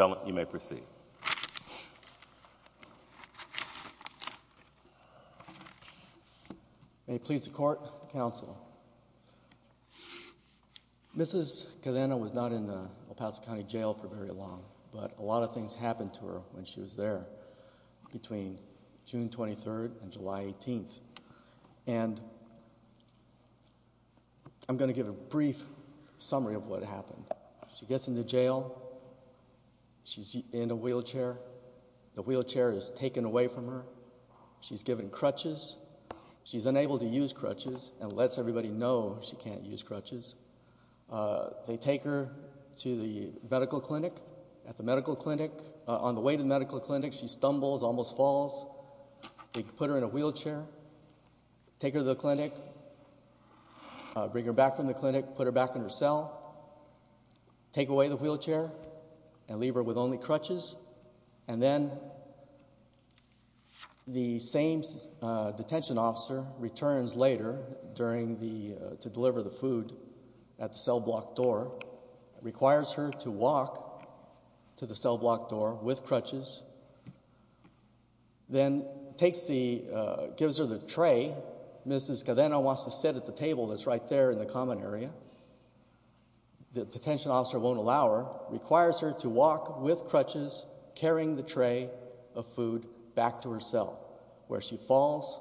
May it please the Court, Counsel. Mrs. Cadena was not in the El Paso County Jail for very long, but a lot of things happened to her when she was there between June 23rd and July 18th. And I'm going to give a brief summary of what happened. She gets in the jail, she's in a wheelchair, the wheelchair is taken away from her, she's given crutches, she's unable to use crutches and lets everybody know she can't use crutches. They take her to the medical clinic, at the medical clinic, on the way to the medical chair, take her to the clinic, bring her back from the clinic, put her back in her cell, take away the wheelchair and leave her with only crutches. And then the same detention officer returns later during the, to deliver the food at the cell block door, requires her to walk to the cell block door with crutches, then takes the, gives her the tray, Mrs. Cadena wants to sit at the table that's right there in the common area. The detention officer won't allow her, requires her to walk with crutches, carrying the tray of food back to her cell. Where she falls,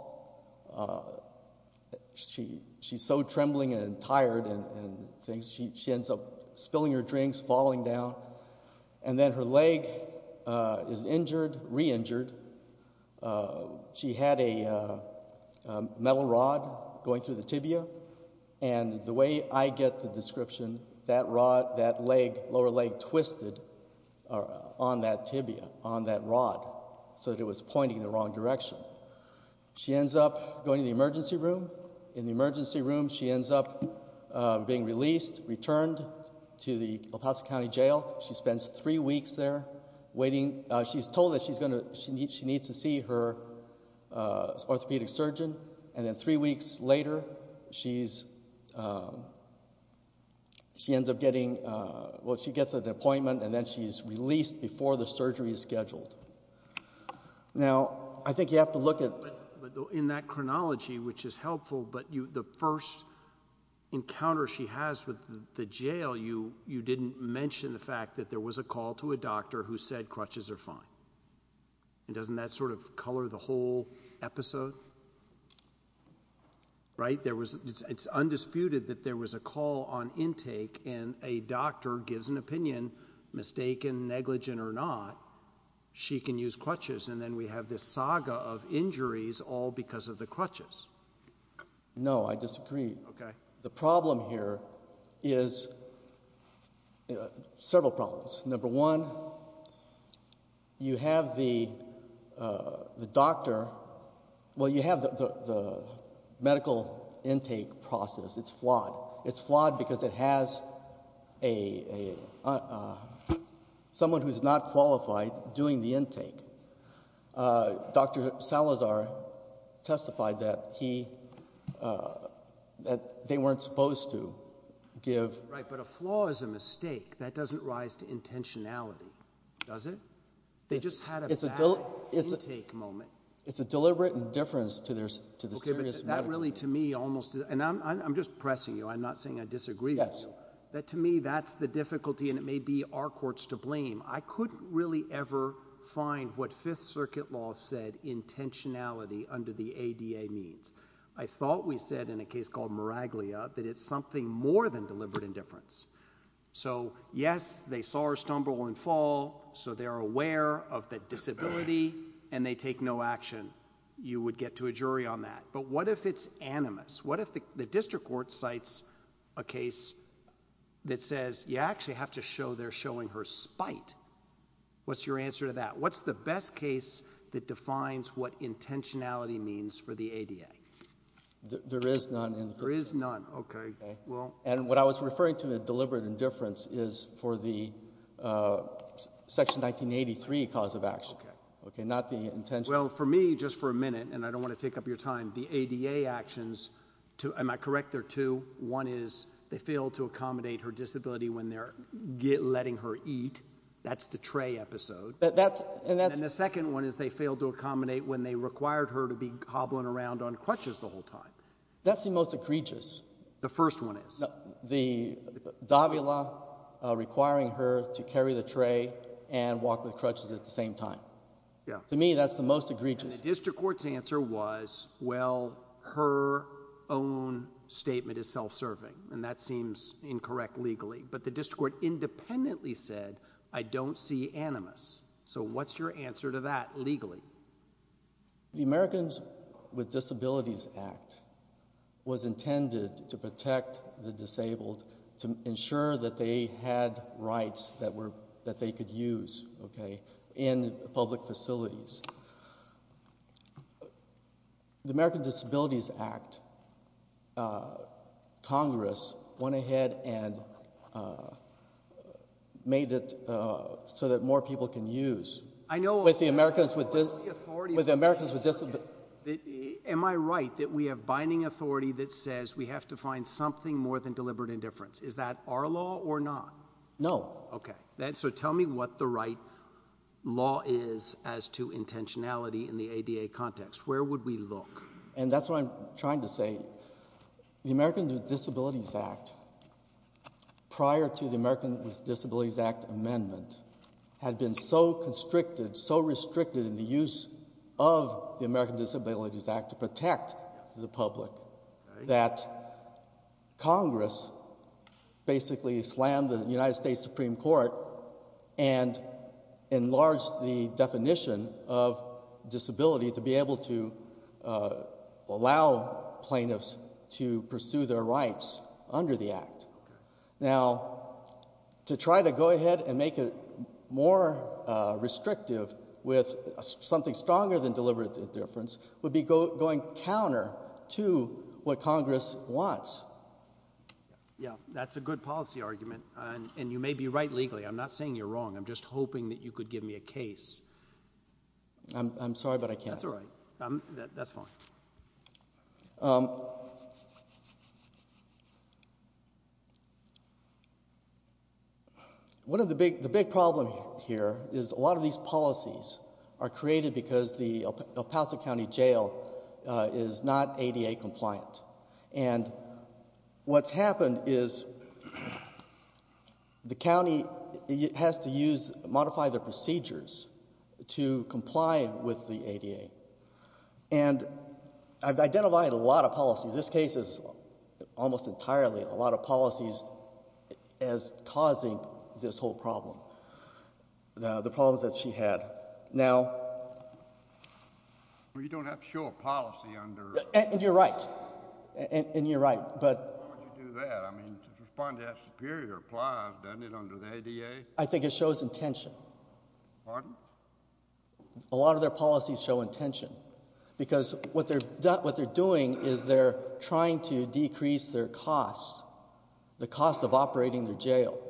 she's so trembling and tired and things, she ends up spilling her drinks, falling down, and then her leg is injured, re-injured. She had a metal rod going through the tibia and the way I get the description, that rod, that leg, lower leg twisted on that tibia, on that rod, so that it was pointing in the wrong direction. She ends up going to the emergency room, in the emergency room she ends up being released, returned to the El Paso County Jail. She spends three weeks there, waiting, she's told that she's going to, she needs to see her orthopedic surgeon, and then three weeks later, she's, she ends up getting, well she gets an appointment and then she's released before the surgery is scheduled. Now I think you have to look at, in that chronology, which is helpful, but you, the first encounter she has with the jail, you, you didn't mention the fact that there was a call to a doctor who said crutches are fine. And doesn't that sort of color the whole episode? Right, there was, it's undisputed that there was a call on intake and a doctor gives an opinion, mistaken, negligent or not, she can use crutches, and then we have this saga of injuries all because of the crutches. No, I disagree. The problem here is, several problems. Number one, you have the doctor, well you have the medical intake process, it's flawed. It's flawed because it has a, someone who's not qualified doing the intake. Dr. Salazar testified that he, that they weren't supposed to give. Right, but a flaw is a mistake. That doesn't rise to intentionality, does it? They just had a bad intake moment. It's a deliberate indifference to the serious medical. Okay, but that really to me almost, and I'm just pressing you, I'm not saying I disagree with you. Yes. That to me, that's the difficulty and it may be our courts to blame. I couldn't really ever find what Fifth Circuit law said intentionality under the ADA means. I thought we said in a case called Miraglia that it's something more than deliberate indifference. So yes, they saw her stumble and fall, so they're aware of the disability and they take no action. You would get to a jury on that, but what if it's animus? What if the district court cites a case that says you actually have to show they're showing her spite? What's your answer to that? What's the best case that defines what intentionality means for the ADA? There is none. There is none. Okay. And what I was referring to, the deliberate indifference, is for the Section 1983 cause of action. Okay, not the intentionality. Well, for me, just for a minute, and I don't want to take up your time, the ADA actions, am I correct? There are two. One is they failed to accommodate her disability when they're letting her eat. That's the tray episode. And the second one is they failed to accommodate when they required her to be hobbling around on crutches the whole time. That's the most egregious. The first one is. The Davila requiring her to carry the tray and walk with crutches at the same time. To me, that's the most egregious. And the district court's answer was, well, her own statement is self-serving. And that seems incorrect legally. But the district court independently said, I don't see animus. So what's your answer to that legally? The Americans with Disabilities Act was intended to protect the disabled, to ensure that they had rights that they could use in public facilities. The American Disabilities Act, Congress went ahead and made it so that more people can use. I know. With the Americans with Disabilities Act. Am I right that we have binding authority that says we have to find something more than deliberate indifference? Is that our law or not? No. Okay. So tell me what the right law is as to intentionality in the ADA context. Where would we look? And that's what I'm trying to say. The Americans with Disabilities Act, prior to the Americans with Disabilities Act amendment, had been so constricted, so restricted in the use of the Americans with Disabilities Act to protect the public, that Congress basically slammed the United States Supreme Court and enlarged the definition of disability to be able to allow plaintiffs to pursue their rights under the act. Now to try to go ahead and make it more restrictive with something stronger than deliberate indifference would be going counter to what Congress wants. That's a good policy argument. And you may be right legally. I'm not saying you're wrong. I'm just hoping that you could give me a case. I'm sorry but I can't. That's all right. That's fine. One of the big problems here is a lot of these policies are created because the El Paso County Jail is not ADA compliant. And what's happened is the county has to modify their procedures to comply with the ADA. And I've identified a lot of policies. This case is almost entirely a lot of policies as causing this whole problem, the problems that she had. Now you don't have to show a policy under... And you're right. And you're right. But... Why would you do that? I mean to respond to that superior plies, doesn't it, under the ADA? I think it shows intention. Pardon? A lot of their policies show intention. Because what they're doing is they're trying to decrease their costs, the cost of operating the jail.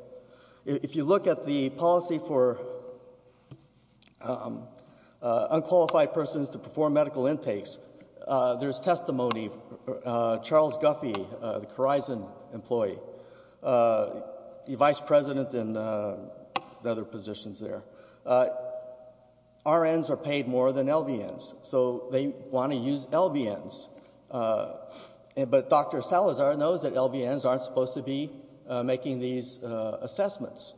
If you look at the policy for unqualified persons to perform medical intakes, there's testimony. Charles Guffey, the Khorizon employee, the vice president in the other positions there, RNs are paid more than LVNs. So they want to use LVNs. But Dr. Salazar knows that LVNs aren't supposed to be making these assessments.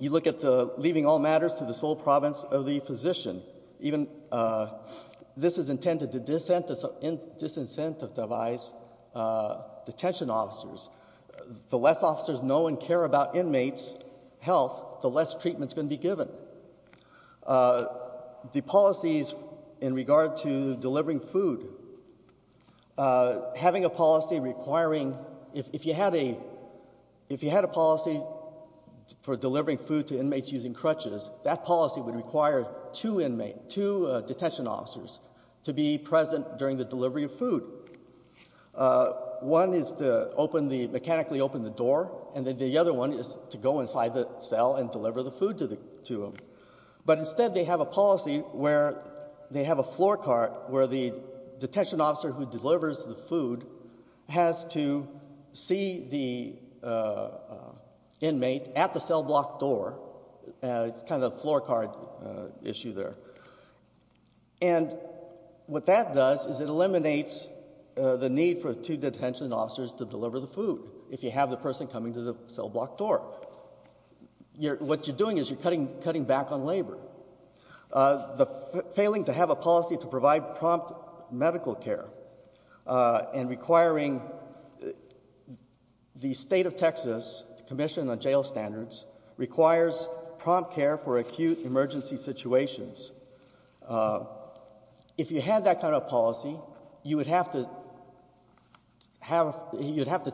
You look at the leaving all matters to the sole province of the physician. This is intended to disincentivize detention officers. The less officers know and care about inmates' health, the less treatment's going to be given. The policies in regard to delivering food, having a policy requiring... If you had a policy for delivering food to inmates using crutches, that policy would require two inmates, two detention officers, to be present during the delivery of food. One is to mechanically open the door, and then the other one is to go inside the cell and deliver the food to them. But instead they have a policy where they have a floor card where the detention officer who delivers the food has to see the inmate at the cell block door. It's kind of a floor card issue there. And what that does is it eliminates the need for two detention officers to deliver the food if you have the person coming to the cell block door. What you're doing is you're cutting back on labor. The failing to have a policy to provide prompt medical care and requiring the state of Texas commission on jail standards requires prompt care for acute emergency situations. If you had that kind of policy, you would have to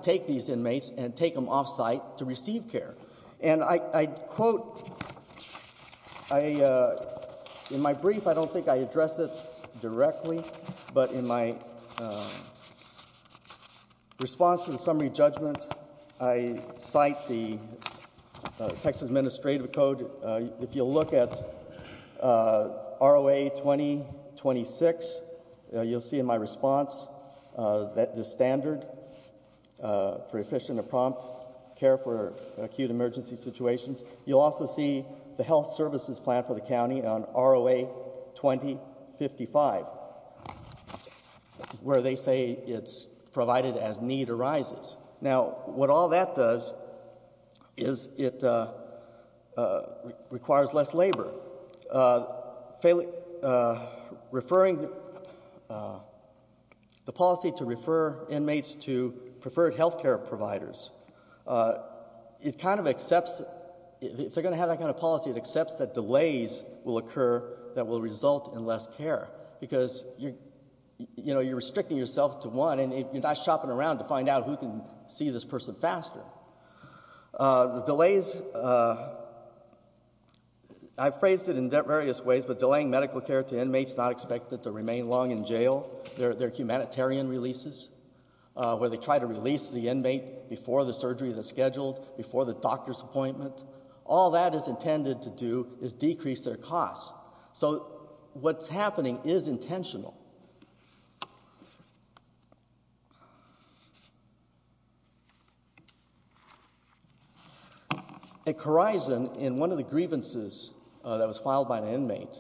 take these inmates and take them off-site to receive care. And I quote, in my brief I don't think I address it directly, but in my response to the summary judgment, I cite the Texas Administrative Code. If you look at ROA 2026, you'll see in my response that the standard for efficient and prompt care for acute emergency situations. You'll also see the health services plan for the county on ROA 2055, where they say it's a need arises. Now what all that does is it requires less labor. Referring the policy to refer inmates to preferred health care providers, it kind of accepts if they're going to have that kind of policy, it accepts that delays will occur that will result in less care because you're restricting yourself to one and you're not shopping around to find out who can see this person faster. I've phrased it in various ways, but delaying medical care to inmates not expected to remain long in jail, their humanitarian releases, where they try to release the inmate before the surgery that's scheduled, before the doctor's appointment, all that is intended to do is decrease their costs. So what's happening is intentional. At Corizon, in one of the grievances that was filed by an inmate,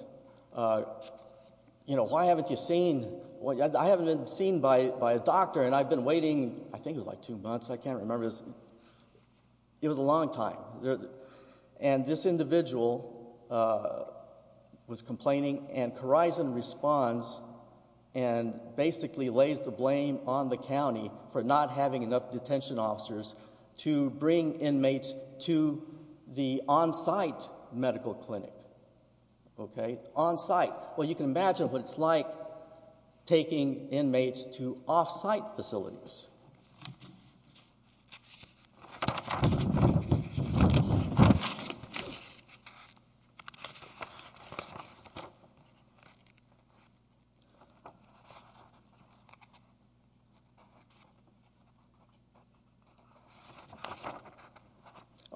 you know, why haven't you seen, I haven't been seen by a doctor and I've been waiting, I think it was like two months, I can't remember, it was a long time. And this individual was complaining and Corizon responds and basically lays the blame on the county for not having enough detention officers to bring inmates to the on-site medical clinic. Okay, on-site, well you can imagine what it's like taking inmates to off-site facilities.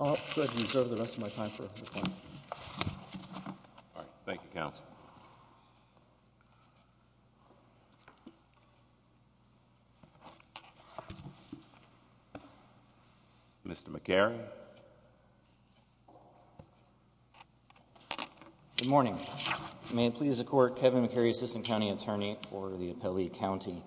I'll go ahead and reserve the rest of my time for the panel. Mr. McCarry. Good morning, may it please the court, Kevin McCarry, Assistant County Attorney for the Appellee County.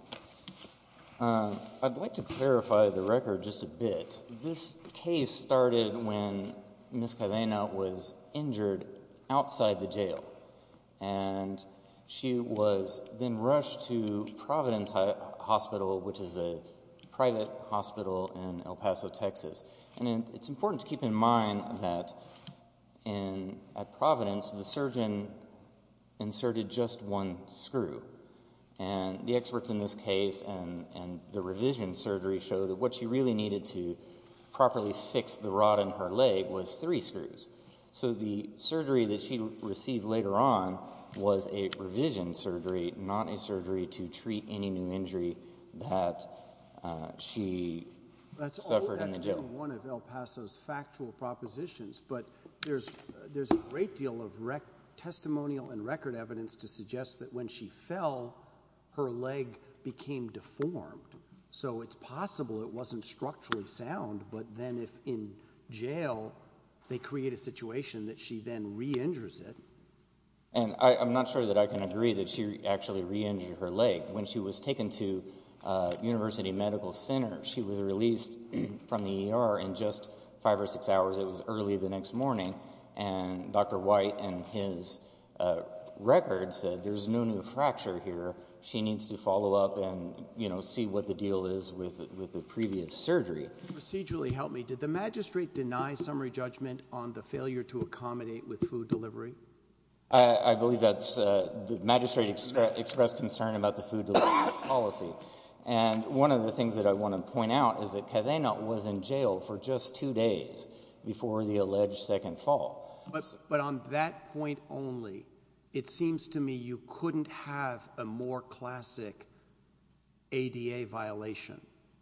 I'd like to clarify the record just a bit. This case started when Ms. Cadena was injured outside the jail and she was then rushed to Providence Hospital, which is a private hospital in El Paso, Texas. And it's important to keep in mind that at Providence the surgeon inserted just one screw and the experts in this case and the revision surgery show that what she really needed to properly fix the rod in her leg was three screws. So the surgery that she received later on was a revision surgery, not a surgery to treat any new injury that she suffered in the jail. That's only one of El Paso's factual propositions, but there's a great deal of testimonial and her leg became deformed. So it's possible it wasn't structurally sound, but then if in jail they create a situation that she then re-injures it. And I'm not sure that I can agree that she actually re-injured her leg. When she was taken to University Medical Center, she was released from the ER in just five or six hours, it was early the next morning, and Dr. White and his records said there's no new fracture here, she needs to follow up and see what the deal is with the previous surgery. Can you procedurally help me? Did the magistrate deny summary judgment on the failure to accommodate with food delivery? I believe that the magistrate expressed concern about the food delivery policy. And one of the things that I want to point out is that Cadena was in jail for just two days before the alleged second fall. But on that point only, it seems to me you couldn't have a more classic ADA violation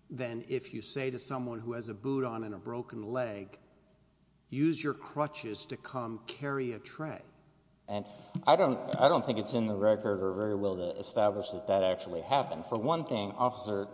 than if you say to someone who has a boot on and a broken leg, use your crutches to come carry a tray. And I don't think it's in the record or very well established that that actually happened. For one thing, Officer,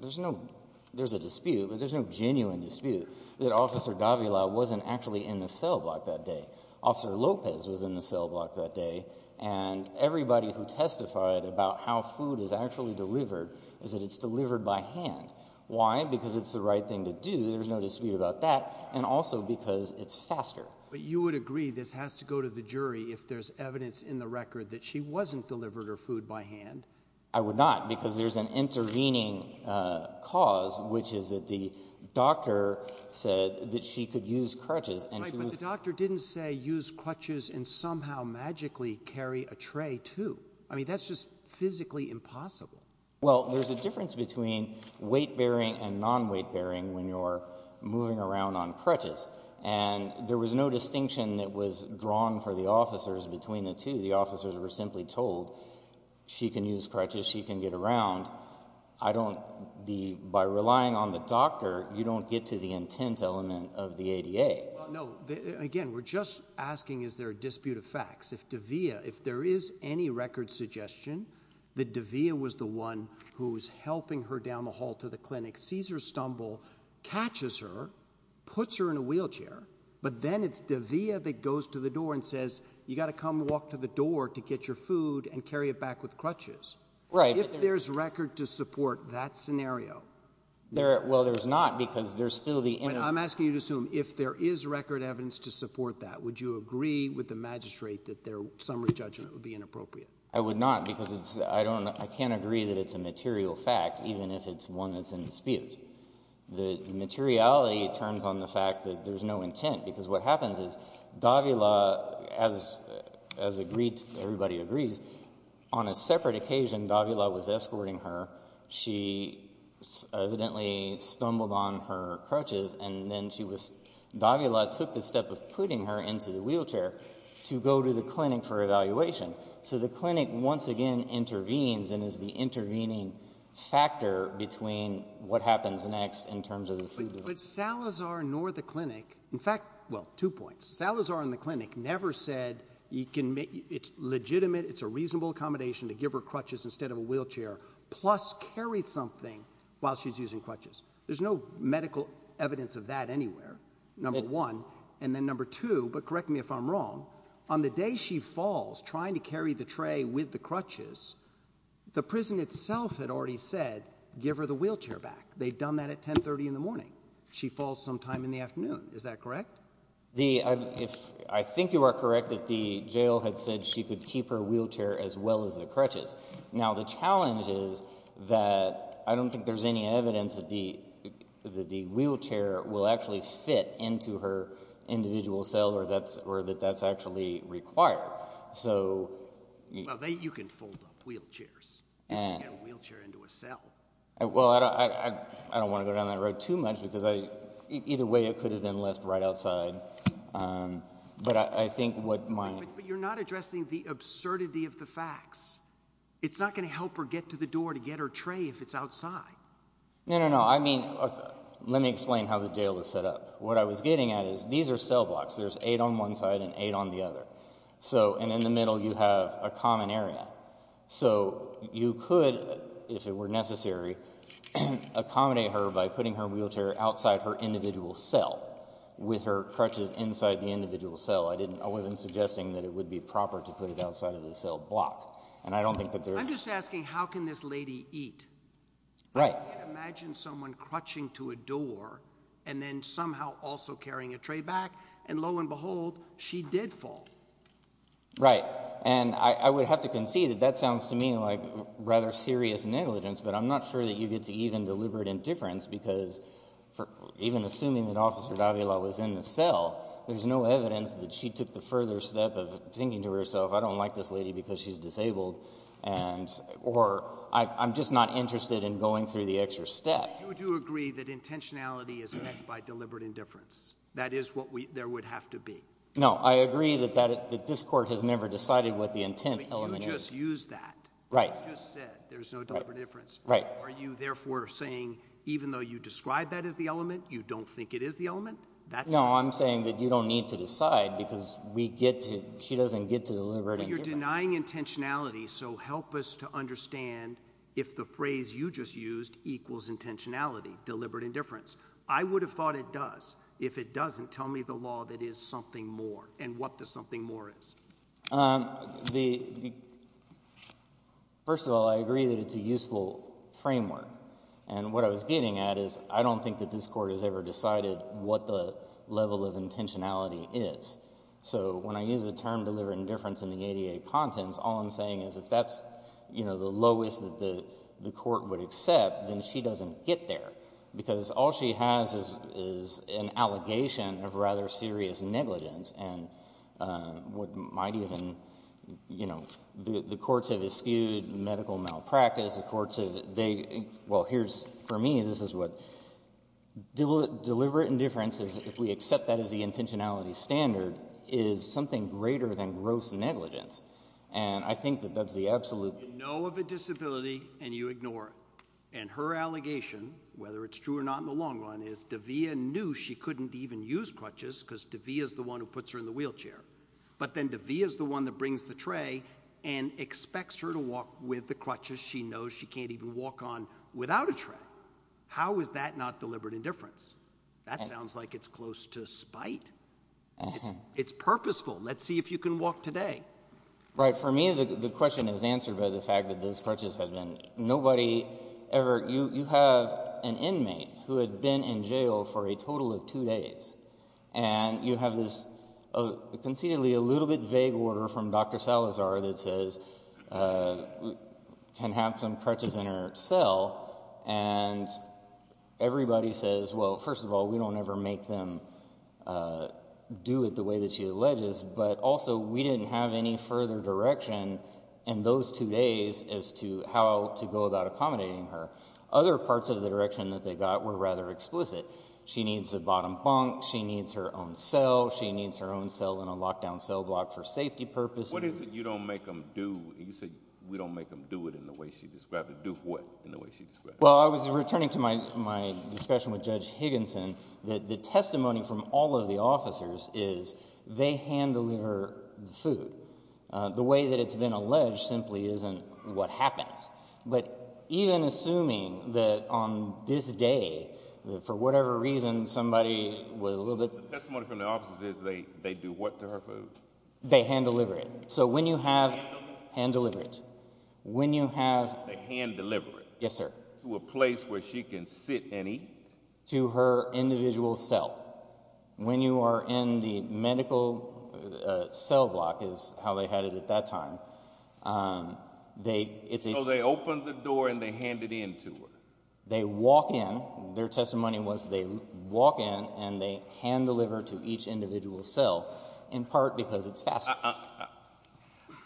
there's a dispute, but there's no genuine dispute that Officer Gavila wasn't actually in the cell block that day. Officer Lopez was in the cell block that day. And everybody who testified about how food is actually delivered is that it's delivered by hand. Why? Because it's the right thing to do, there's no dispute about that, and also because it's faster. But you would agree this has to go to the jury if there's evidence in the record that she wasn't delivered her food by hand? I would not, because there's an intervening cause, which is that the doctor said that she could use crutches. Right, but the doctor didn't say use crutches and somehow magically carry a tray, too. I mean, that's just physically impossible. Well, there's a difference between weight-bearing and non-weight-bearing when you're moving around on crutches. And there was no distinction that was drawn for the officers between the two. The officers were simply told she can use crutches, she can get around. By relying on the doctor, you don't get to the intent element of the ADA. No, again, we're just asking is there a dispute of facts. If there is any record suggestion that Davia was the one who was helping her down the hall to the clinic, sees her stumble, catches her, puts her in a wheelchair, but then it's Davia that goes to the door and says, you've got to come walk to the door to get your food and carry it back with crutches. Right. If there's record to support that scenario — Well, there's not, because there's still the — I'm asking you to assume, if there is record evidence to support that, would you agree with the magistrate that their summary judgment would be inappropriate? I would not, because it's — I don't — I can't agree that it's a material fact, even if it's one that's in dispute. The materiality turns on the fact that there's no intent, because what happens is Davia, as agreed — everybody agrees — on a separate occasion, Davia was escorting her. She evidently stumbled on her crutches, and then she was — Davia took the step of putting her into the wheelchair to go to the clinic for evaluation. So the clinic, once again, intervenes and is the intervening factor between what happens next in terms of the food delivery. But Salazar nor the clinic — in fact — well, two points. Salazar and the clinic never said, it's legitimate, it's a reasonable accommodation to give her crutches instead of a wheelchair, plus carry something while she's using crutches. There's no medical evidence of that anywhere, number one. And then number two — but correct me if I'm wrong — on the day she falls, trying to carry the tray with the crutches, the prison itself had already said, give her the wheelchair back. They'd done that at 10.30 in the morning. She falls sometime in the afternoon. Is that correct? The — I think you are correct that the jail had said she could keep her wheelchair as well as the crutches. Now the challenge is that I don't think there's any evidence that the wheelchair will actually fit into her individual cell or that that's actually required. So — Well, you can fold up wheelchairs. You can get a wheelchair into a cell. Well, I don't want to go down that road too much, because I — either way, it could have been left right outside. But I think what my — But you're not addressing the absurdity of the facts. It's not going to help her get to the door to get her tray if it's outside. No, no, no. I mean, let me explain how the jail is set up. What I was getting at is these are cell blocks. There's eight on one side and eight on the other. So — and in the middle you have a common area. So you could, if it were necessary, accommodate her by putting her wheelchair outside her individual cell with her crutches inside the individual cell. I didn't — I wasn't suggesting that it would be proper to put it outside of the cell block. And I don't think that there's — I'm just asking how can this lady eat? Right. I mean, imagine someone crutching to a door and then somehow also carrying a tray back, and lo and behold, she did fall. Right. And I would have to concede that that sounds to me like rather serious negligence, but I'm not sure that you get to even deliberate indifference, because even assuming that Officer Davila was in the cell, there's no evidence that she took the further step of thinking to herself, I don't like this lady because she's disabled, and — or I'm just not interested in going through the extra step. But you do agree that intentionality is met by deliberate indifference. That is what we — there would have to be. No, I agree that that — that this Court has never decided what the intent element is. But you just used that. Right. You just said there's no deliberate indifference. Right. Are you therefore saying even though you describe that as the element, you don't think it is the element? That's — No, I'm saying that you don't need to decide because we get to — she doesn't get to deliberate indifference. But you're denying intentionality, so help us to understand if the phrase you just used equals intentionality, deliberate indifference. I would have thought it does. If it doesn't, tell me the law that is something more, and what the something more is. The — first of all, I agree that it's a useful framework. And what I was getting at is I don't think that this Court has ever decided what the level of intentionality is. So when I use the term deliberate indifference in the ADA contents, all I'm saying is if that's, you know, the lowest that the — the Court would accept, then she doesn't get there because all she has is — is an allegation of rather serious negligence, and what might even — you know, the — the courts have eschewed medical malpractice, the courts have — they — well, here's — for me, this is what — deliberate indifference is if we accept that as the intentionality standard is something greater than gross negligence. And I think that that's the absolute — You know of a disability, and you ignore it. And her allegation, whether it's true or not in the long run, is De'Vea knew she couldn't even use crutches because De'Vea's the one who puts her in the wheelchair. But then De'Vea's the one that brings the tray and expects her to walk with the crutches she knows she can't even walk on without a tray. How is that not deliberate indifference? That sounds like it's close to spite. It's purposeful. Let's see if you can walk today. Right. For me, the question is answered by the fact that those crutches have been — nobody ever — you — you have an inmate who had been in jail for a total of two days, and you have this concededly a little bit vague order from Dr. Salazar that says, can have some crutches in her cell, and everybody says, well, first of all, we don't ever make them do it the way that she alleges, but also we didn't have any further direction in those two days as to how to go about accommodating her. Other parts of the direction that they got were rather explicit. She needs a bottom bunk. She needs her own cell. She needs her own cell in a locked-down cell block for safety purposes. What is it you don't make them do — you said we don't make them do it in the way she described it. Do what in the way she described it? Well, I was returning to my discussion with Judge Higginson that the testimony from all of the officers is they hand-deliver the food. The way that it's been alleged simply isn't what happens. But even assuming that on this day, for whatever reason, somebody was a little bit — The testimony from the officers is they do what to her food? They hand-deliver it. So when you have — Hand-deliver? Hand-deliver it. When you have — They hand-deliver it? Yes, sir. To a place where she can sit and eat? To her individual cell. When you are in the medical cell block, is how they had it at that time, they — So they open the door and they hand it in to her? They walk in. Their testimony was they walk in and they hand-deliver to each individual cell, in part because it's faster.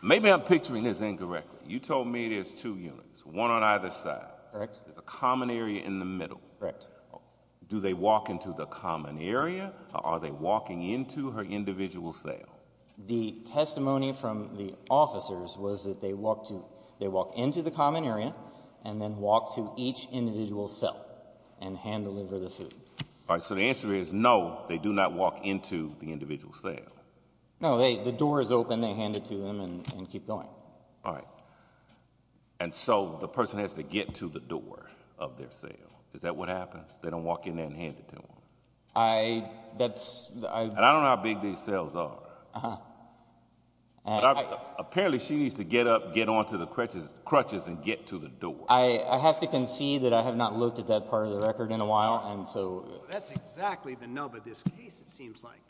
Maybe I'm picturing this incorrectly. You told me there's two units, one on either side. Correct. There's a common area in the middle. Correct. Do they walk into the common area or are they walking into her individual cell? The testimony from the officers was that they walk to — they walk into the common area and then walk to each individual cell and hand-deliver the food. All right. So the answer is no, they do not walk into the individual cell. No, the door is open. They hand it to them and keep going. All right. And so the person has to get to the door of their cell. Is that what happens? They don't walk in there and hand it to them? I — that's — And I don't know how big these cells are. Uh-huh. But apparently she needs to get up, get onto the crutches and get to the door. I have to concede that I have not looked at that part of the record in a while, and so — That's exactly the nub of this case, it seems like.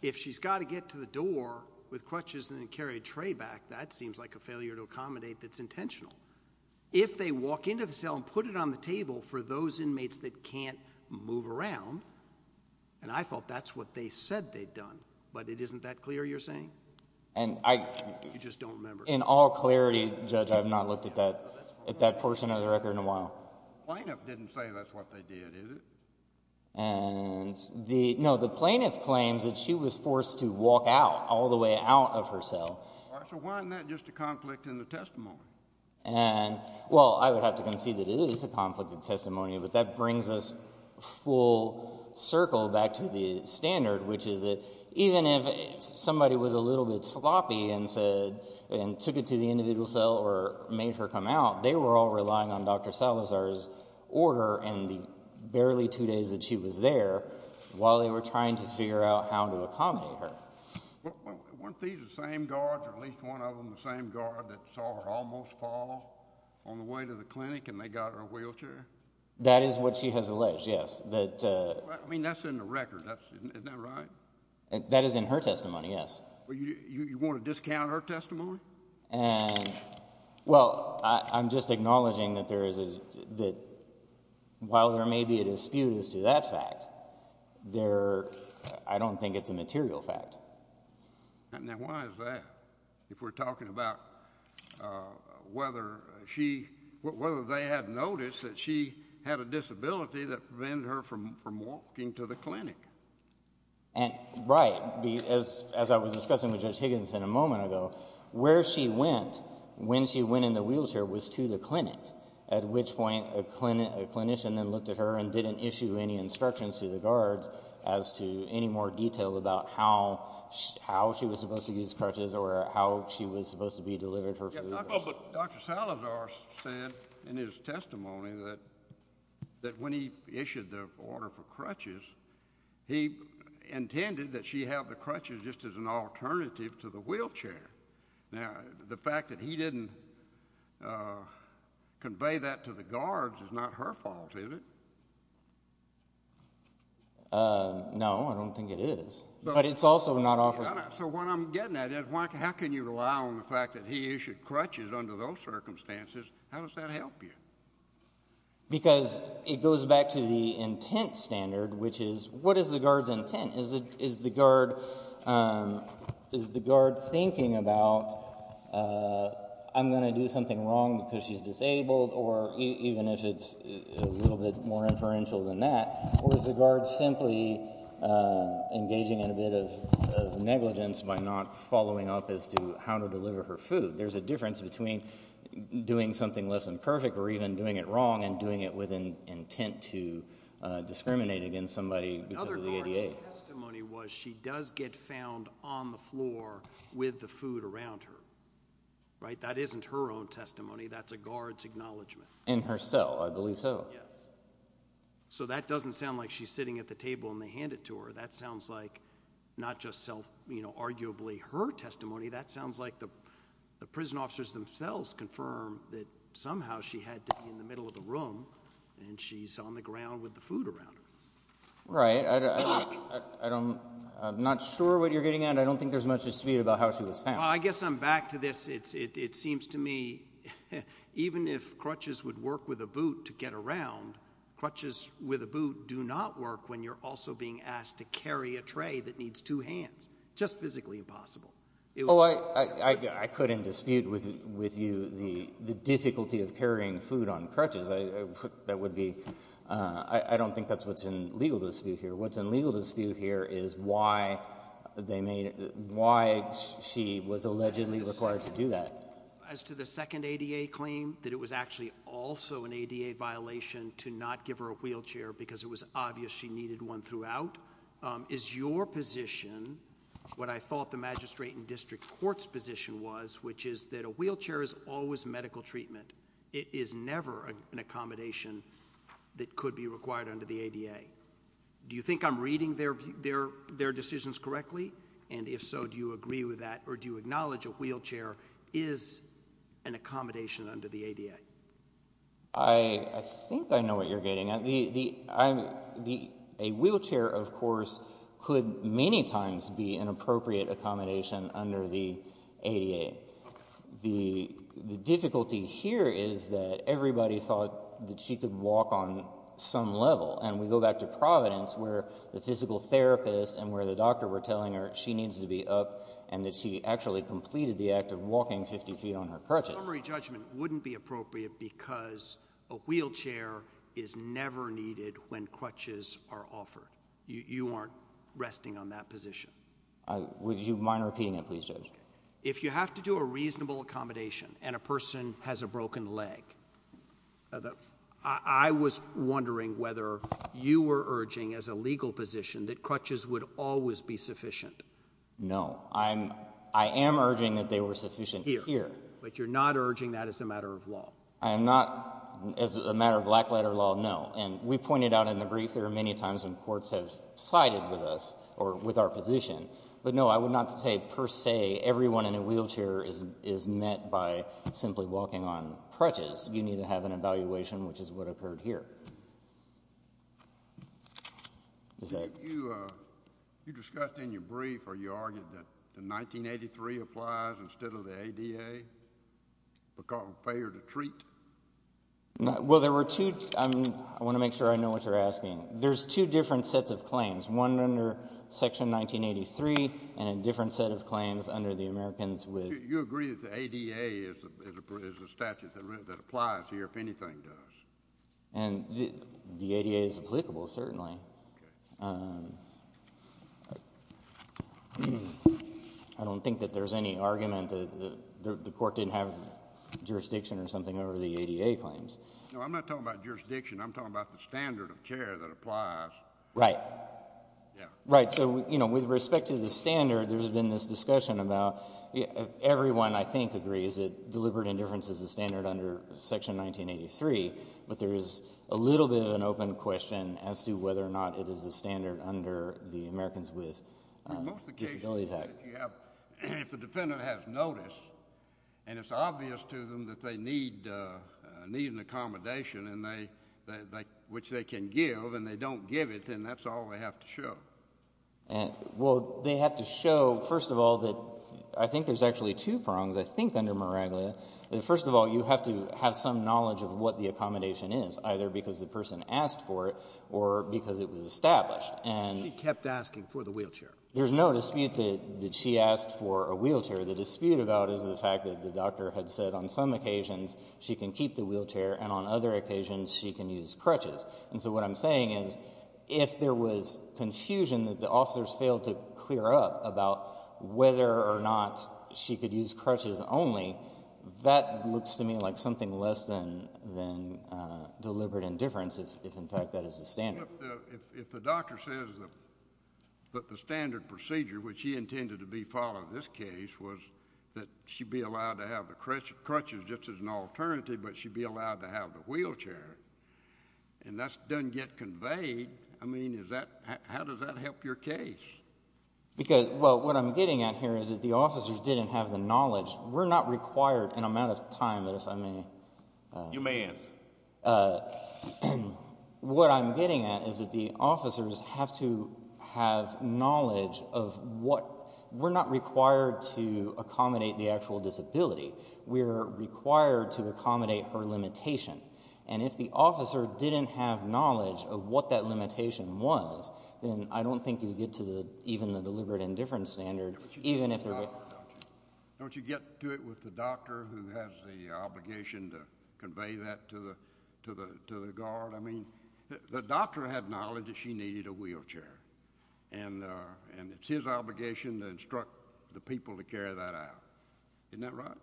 If she's got to get to the door with crutches and then carry a tray back, that seems like a failure to accommodate that's intentional. If they walk into the cell and put it on the table for those inmates that can't move around — and I thought that's what they said they'd done, but it isn't that clear, you're saying? And I — You just don't remember. In all clarity, Judge, I have not looked at that — at that portion of the record in a while. The plaintiff didn't say that's what they did, is it? And the — no, the plaintiff claims that she was forced to walk out, all the way out of her cell. All right, so why isn't that just a conflict in the testimony? And — well, I would have to concede that it is a conflict in testimony, but that brings us full circle back to the standard, which is that even if somebody was a little bit sloppy and said — and took it to the individual cell or made her come out, they were all relying on Dr. Salazar's order and the barely two days that she was there while they were trying to figure out how to accommodate her. Weren't these the same guards, or at least one of them the same guard, that saw her almost fall on the way to the clinic and they got her a wheelchair? That is what she has alleged, yes. That — I mean, that's in the record. Isn't that right? That is in her testimony, yes. Well, you want to discount her testimony? And — well, I'm just acknowledging that there is a — that while there may be a dispute as to that fact, there — I don't think it's a material fact. And then why is that, if we're talking about whether she — whether they had noticed that she had a disability that prevented her from walking to the clinic? And, right, as I was discussing with Judge Higginson a moment ago, where she went, when she went in the wheelchair, was to the clinic, at which point a clinician then looked at her and didn't issue any instructions to the guards as to any more detail about how she was supposed to use crutches or how she was supposed to be delivered her food. Well, but Dr. Salazar said in his testimony that when he issued the order for crutches, he intended that she have the crutches just as an alternative to the wheelchair. Now, the fact that he didn't convey that to the guards is not her fault, is it? No, I don't think it is. But it's also not off — So what I'm getting at is, why — how can you rely on the fact that he issued crutches under those circumstances? How does that help you? Because it goes back to the intent standard, which is, what is the guard's intent? Is the guard — is the guard thinking about, I'm going to do something wrong because she's disabled, or even if it's a little bit more inferential than that, or is the guard simply engaging in a bit of negligence by not following up as to how to deliver her food? There's a difference between doing something less than perfect or even doing it wrong and doing it with an intent to discriminate against somebody because of the ADA. Another guard's testimony was she does get found on the floor with the food around her. Right? That isn't her own testimony. That's a guard's acknowledgment. In her cell, I believe so. Yes. So that doesn't sound like she's sitting at the table and they hand it to her. That sounds like not just self — you know, arguably her testimony. That sounds like the prison officers themselves confirm that somehow she had to be in the middle of the room and she's on the ground with the food around her. Right. I don't — I'm not sure what you're getting at. I don't think there's much dispute about how she was found. I guess I'm back to this. It seems to me even if crutches would work with a boot to get around, crutches with a boot do not work when you're also being asked to carry a tray that needs two hands. Just physically impossible. Oh, I couldn't dispute with you the difficulty of carrying food on crutches. That would be — I don't think that's what's in legal dispute here. What's in legal dispute here is why they made — why she was allegedly required to do that. As to the second ADA claim, that it was actually also an ADA violation to not give her a wheelchair because it was obvious she needed one throughout, is your position what I thought the magistrate and district court's position was, which is that a wheelchair is always medical treatment. It is never an accommodation that could be required under the ADA. Do you think I'm reading their decisions correctly? And if so, do you agree with that? Or do you acknowledge a wheelchair is an accommodation under the ADA? I think I know what you're getting at. A wheelchair, of course, could many times be an appropriate accommodation under the ADA. The difficulty here is that everybody thought that she could walk on some level. And we go back to Providence where the physical therapist and where the doctor were telling her she needs to be up and that she actually completed the act of walking 50 feet on her crutches. A summary judgment wouldn't be appropriate because a wheelchair is never needed when crutches are offered. You aren't resting on that position. Would you mind repeating it, please, Judge? If you have to do a reasonable accommodation and a person has a broken leg, I was wondering whether you were urging as a legal position that crutches would always be sufficient. No. I am urging that they were sufficient here. But you're not urging that as a matter of law. I am not, as a matter of black-letter law, no. And we pointed out in the brief there are many times when courts have sided with us or with our position. But no, I would not say per se everyone in a wheelchair is met by simply walking on crutches. You need to have an evaluation, which is what occurred here. You discussed in your brief or you argued that the 1983 applies instead of the ADA because of failure to treat? Well, there were two. I want to make sure I know what you're asking. There's two different sets of claims, one under Section 1983 and a different set of claims under the Americans with… You agree that the ADA is a statute that applies here if anything does. And the ADA is applicable, certainly. Okay. I don't think that there's any argument that the court didn't have jurisdiction or something over the ADA claims. No, I'm not talking about jurisdiction. I'm talking about the standard of care that applies. Right. Yeah. Right. So, you know, with respect to the standard, there's been this discussion about everyone I think agrees that deliberate indifference is the standard under Section 1983, but there is a little bit of an open question as to whether or not it is the standard under the Americans with Disabilities Act. Most of the cases you have, if the defendant has notice, and it's obvious to them that they need an accommodation, which they can give, and they don't give it, then that's all they have to show. Well, they have to show, first of all, that I think there's actually two prongs, I think, under Miraglia. First of all, you have to have some knowledge of what the accommodation is, either because the person asked for it or because it was established. She kept asking for the wheelchair. There's no dispute that she asked for a wheelchair. The dispute about it is the fact that the doctor had said on some occasions she can keep the wheelchair and on other occasions she can use crutches. And so what I'm saying is if there was confusion that the officers failed to clear up about whether or not she could use crutches only, that looks to me like something less than deliberate indifference if, in fact, that is the standard. Well, if the doctor says that the standard procedure, which he intended to be following this case, was that she be allowed to have the crutches just as an alternative, but she be allowed to have the wheelchair, and that doesn't get conveyed, I mean, how does that help your case? Because, well, what I'm getting at here is that the officers didn't have the knowledge. We're not required, and I'm out of time, but if I may... You may answer. What I'm getting at is that the officers have to have knowledge of what... We're not required to accommodate the actual disability. We're required to accommodate her limitation. And if the officer didn't have knowledge of what that limitation was, then I don't think you'd get to even the deliberate indifference standard even if... Don't you get to it with the doctor who has the obligation to convey that to the guard? I mean, the doctor had knowledge that she needed a wheelchair, and it's his obligation to instruct the people to carry that out. Isn't that right?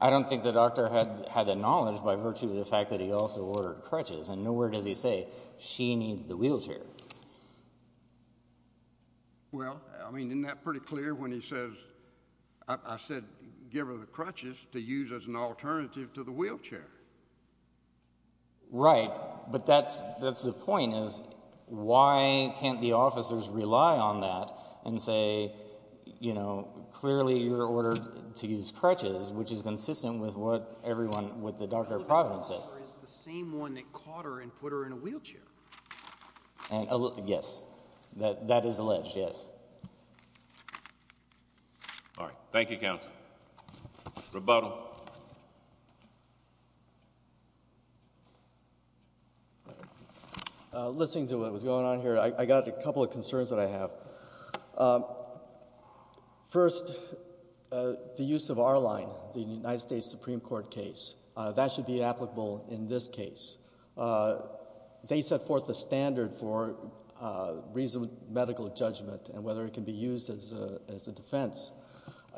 I don't think the doctor had the knowledge by virtue of the fact that he also ordered crutches, and nowhere does he say, she needs the wheelchair. Well, I mean, isn't that pretty clear when he says... I said, give her the crutches to use as an alternative to the wheelchair. Right, but that's the point, is why can't the officers rely on that and say, you know, to use crutches, which is consistent with what everyone... What the doctor at Providence said. But the doctor is the same one that caught her and put her in a wheelchair. Yes, that is alleged, yes. All right, thank you, counsel. Rebuttal. Listening to what was going on here, I got a couple of concerns that I have. First, the use of R-Line, the United States Supreme Court case. That should be applicable in this case. They set forth the standard for reasoned medical judgment and whether it can be used as a defense.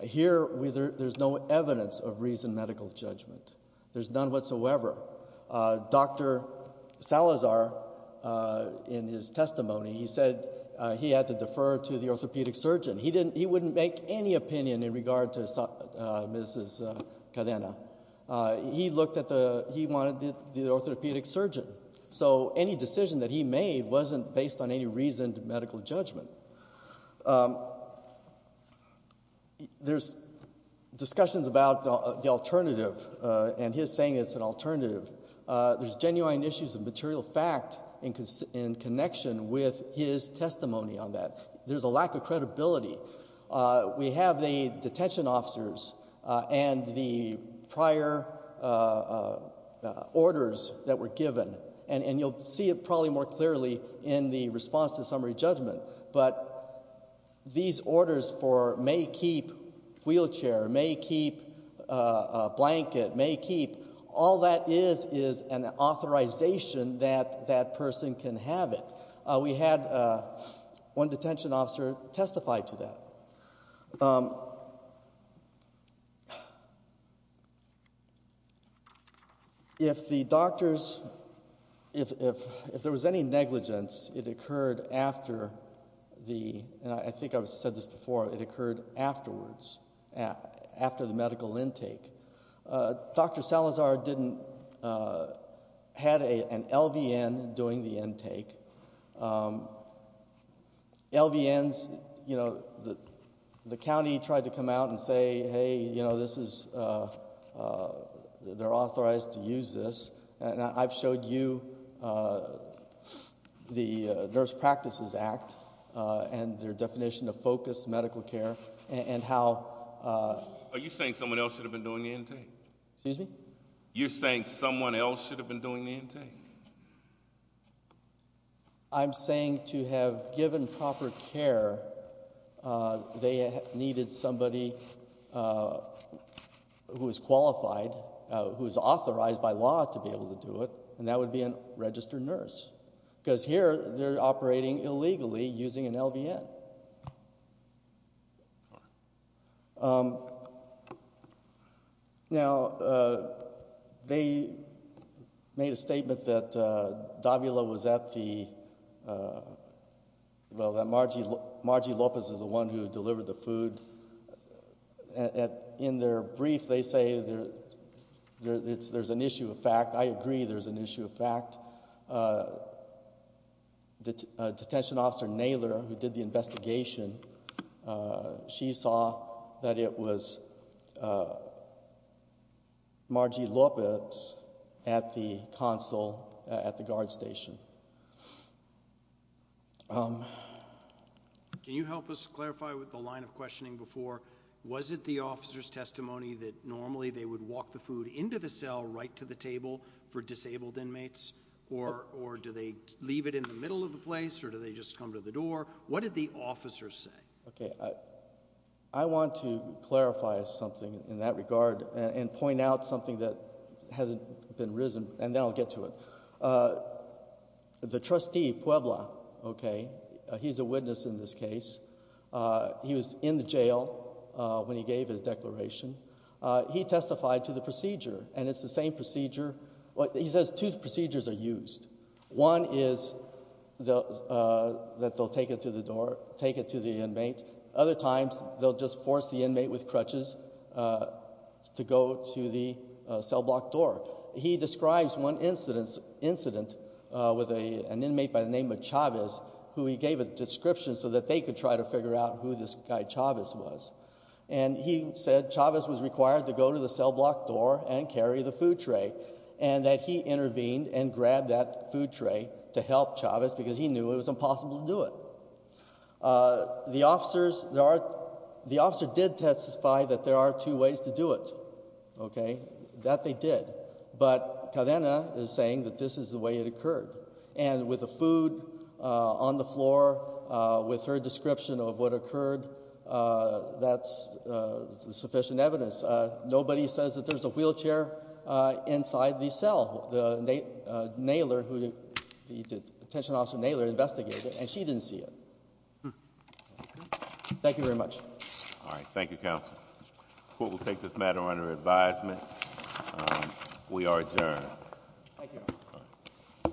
Here, there's no evidence of reasoned medical judgment. There's none whatsoever. Dr. Salazar, in his testimony, he said he had to defer to the orthopedic surgeon. He wouldn't make any opinion in regard to Mrs. Cadena. He wanted the orthopedic surgeon. So any decision that he made wasn't based on any reasoned medical judgment. There's discussions about the alternative and his saying it's an alternative. There's genuine issues of material fact in connection with his testimony on that. There's a lack of credibility. We have the detention officers and the prior orders that were given. And you'll see it probably more clearly in the response to summary judgment. But these orders for may keep wheelchair, may keep blanket, may keep, all that is is an authorization that that person can have it. We had one detention officer testify to that. If the doctors, if there was any negligence, it occurred after the, and I think I've said this before, it occurred afterwards, after the medical intake. Dr. Salazar didn't, had an LVN during the intake. LVNs, you know, the county tried to come out and say, hey, you know, this is, they're authorized to use this. And I've showed you the Nurse Practices Act and their definition of focused medical care and how- Are you saying someone else should have been doing the intake? Excuse me? You're saying someone else should have been doing the intake? I'm saying to have given proper care, they needed somebody who was qualified, who was authorized by law to be able to do it, and that would be a registered nurse. Because here, they're operating illegally using an LVN. Now, they made a statement that Davila was at the, well, that Margie Lopez is the one who delivered the food. In their brief, they say there's an issue of fact. I agree there's an issue of fact. Detention Officer Naylor, who did the investigation, she saw that it was Margie Lopez at the console at the guard station. Can you help us clarify with the line of questioning before? Was it the officer's testimony that normally they would walk the food into the cell right to the table for disabled inmates? Or do they leave it in the middle of the place, or do they just come to the door? What did the officer say? Okay, I want to clarify something in that regard and point out something that hasn't been risen, and then I'll get to it. The trustee, Puebla, okay, he's a witness in this case. He was in the jail when he gave his declaration. He testified to the procedure, and it's the same procedure. He says two procedures are used. One is that they'll take it to the door, take it to the inmate. Other times, they'll just force the inmate with crutches to go to the cell block door. He describes one incident with an inmate by the name of Chavez, who he gave a description so that they could try to figure out who this guy Chavez was. And he said Chavez was required to go to the cell block door and carry the food tray, and that he intervened and grabbed that food tray to help Chavez because he knew it was impossible to do it. The officer did testify that there are two ways to do it. Okay, that they did. But Cadena is saying that this is the way it occurred. And with the food on the floor, with her description of what occurred, that's sufficient evidence. Nobody says that there's a wheelchair inside the cell. Naylor, the detention officer Naylor, investigated it, and she didn't see it. Thank you very much. All right, thank you, counsel. The court will take this matter under advisement. We are adjourned. Thank you. Thank you.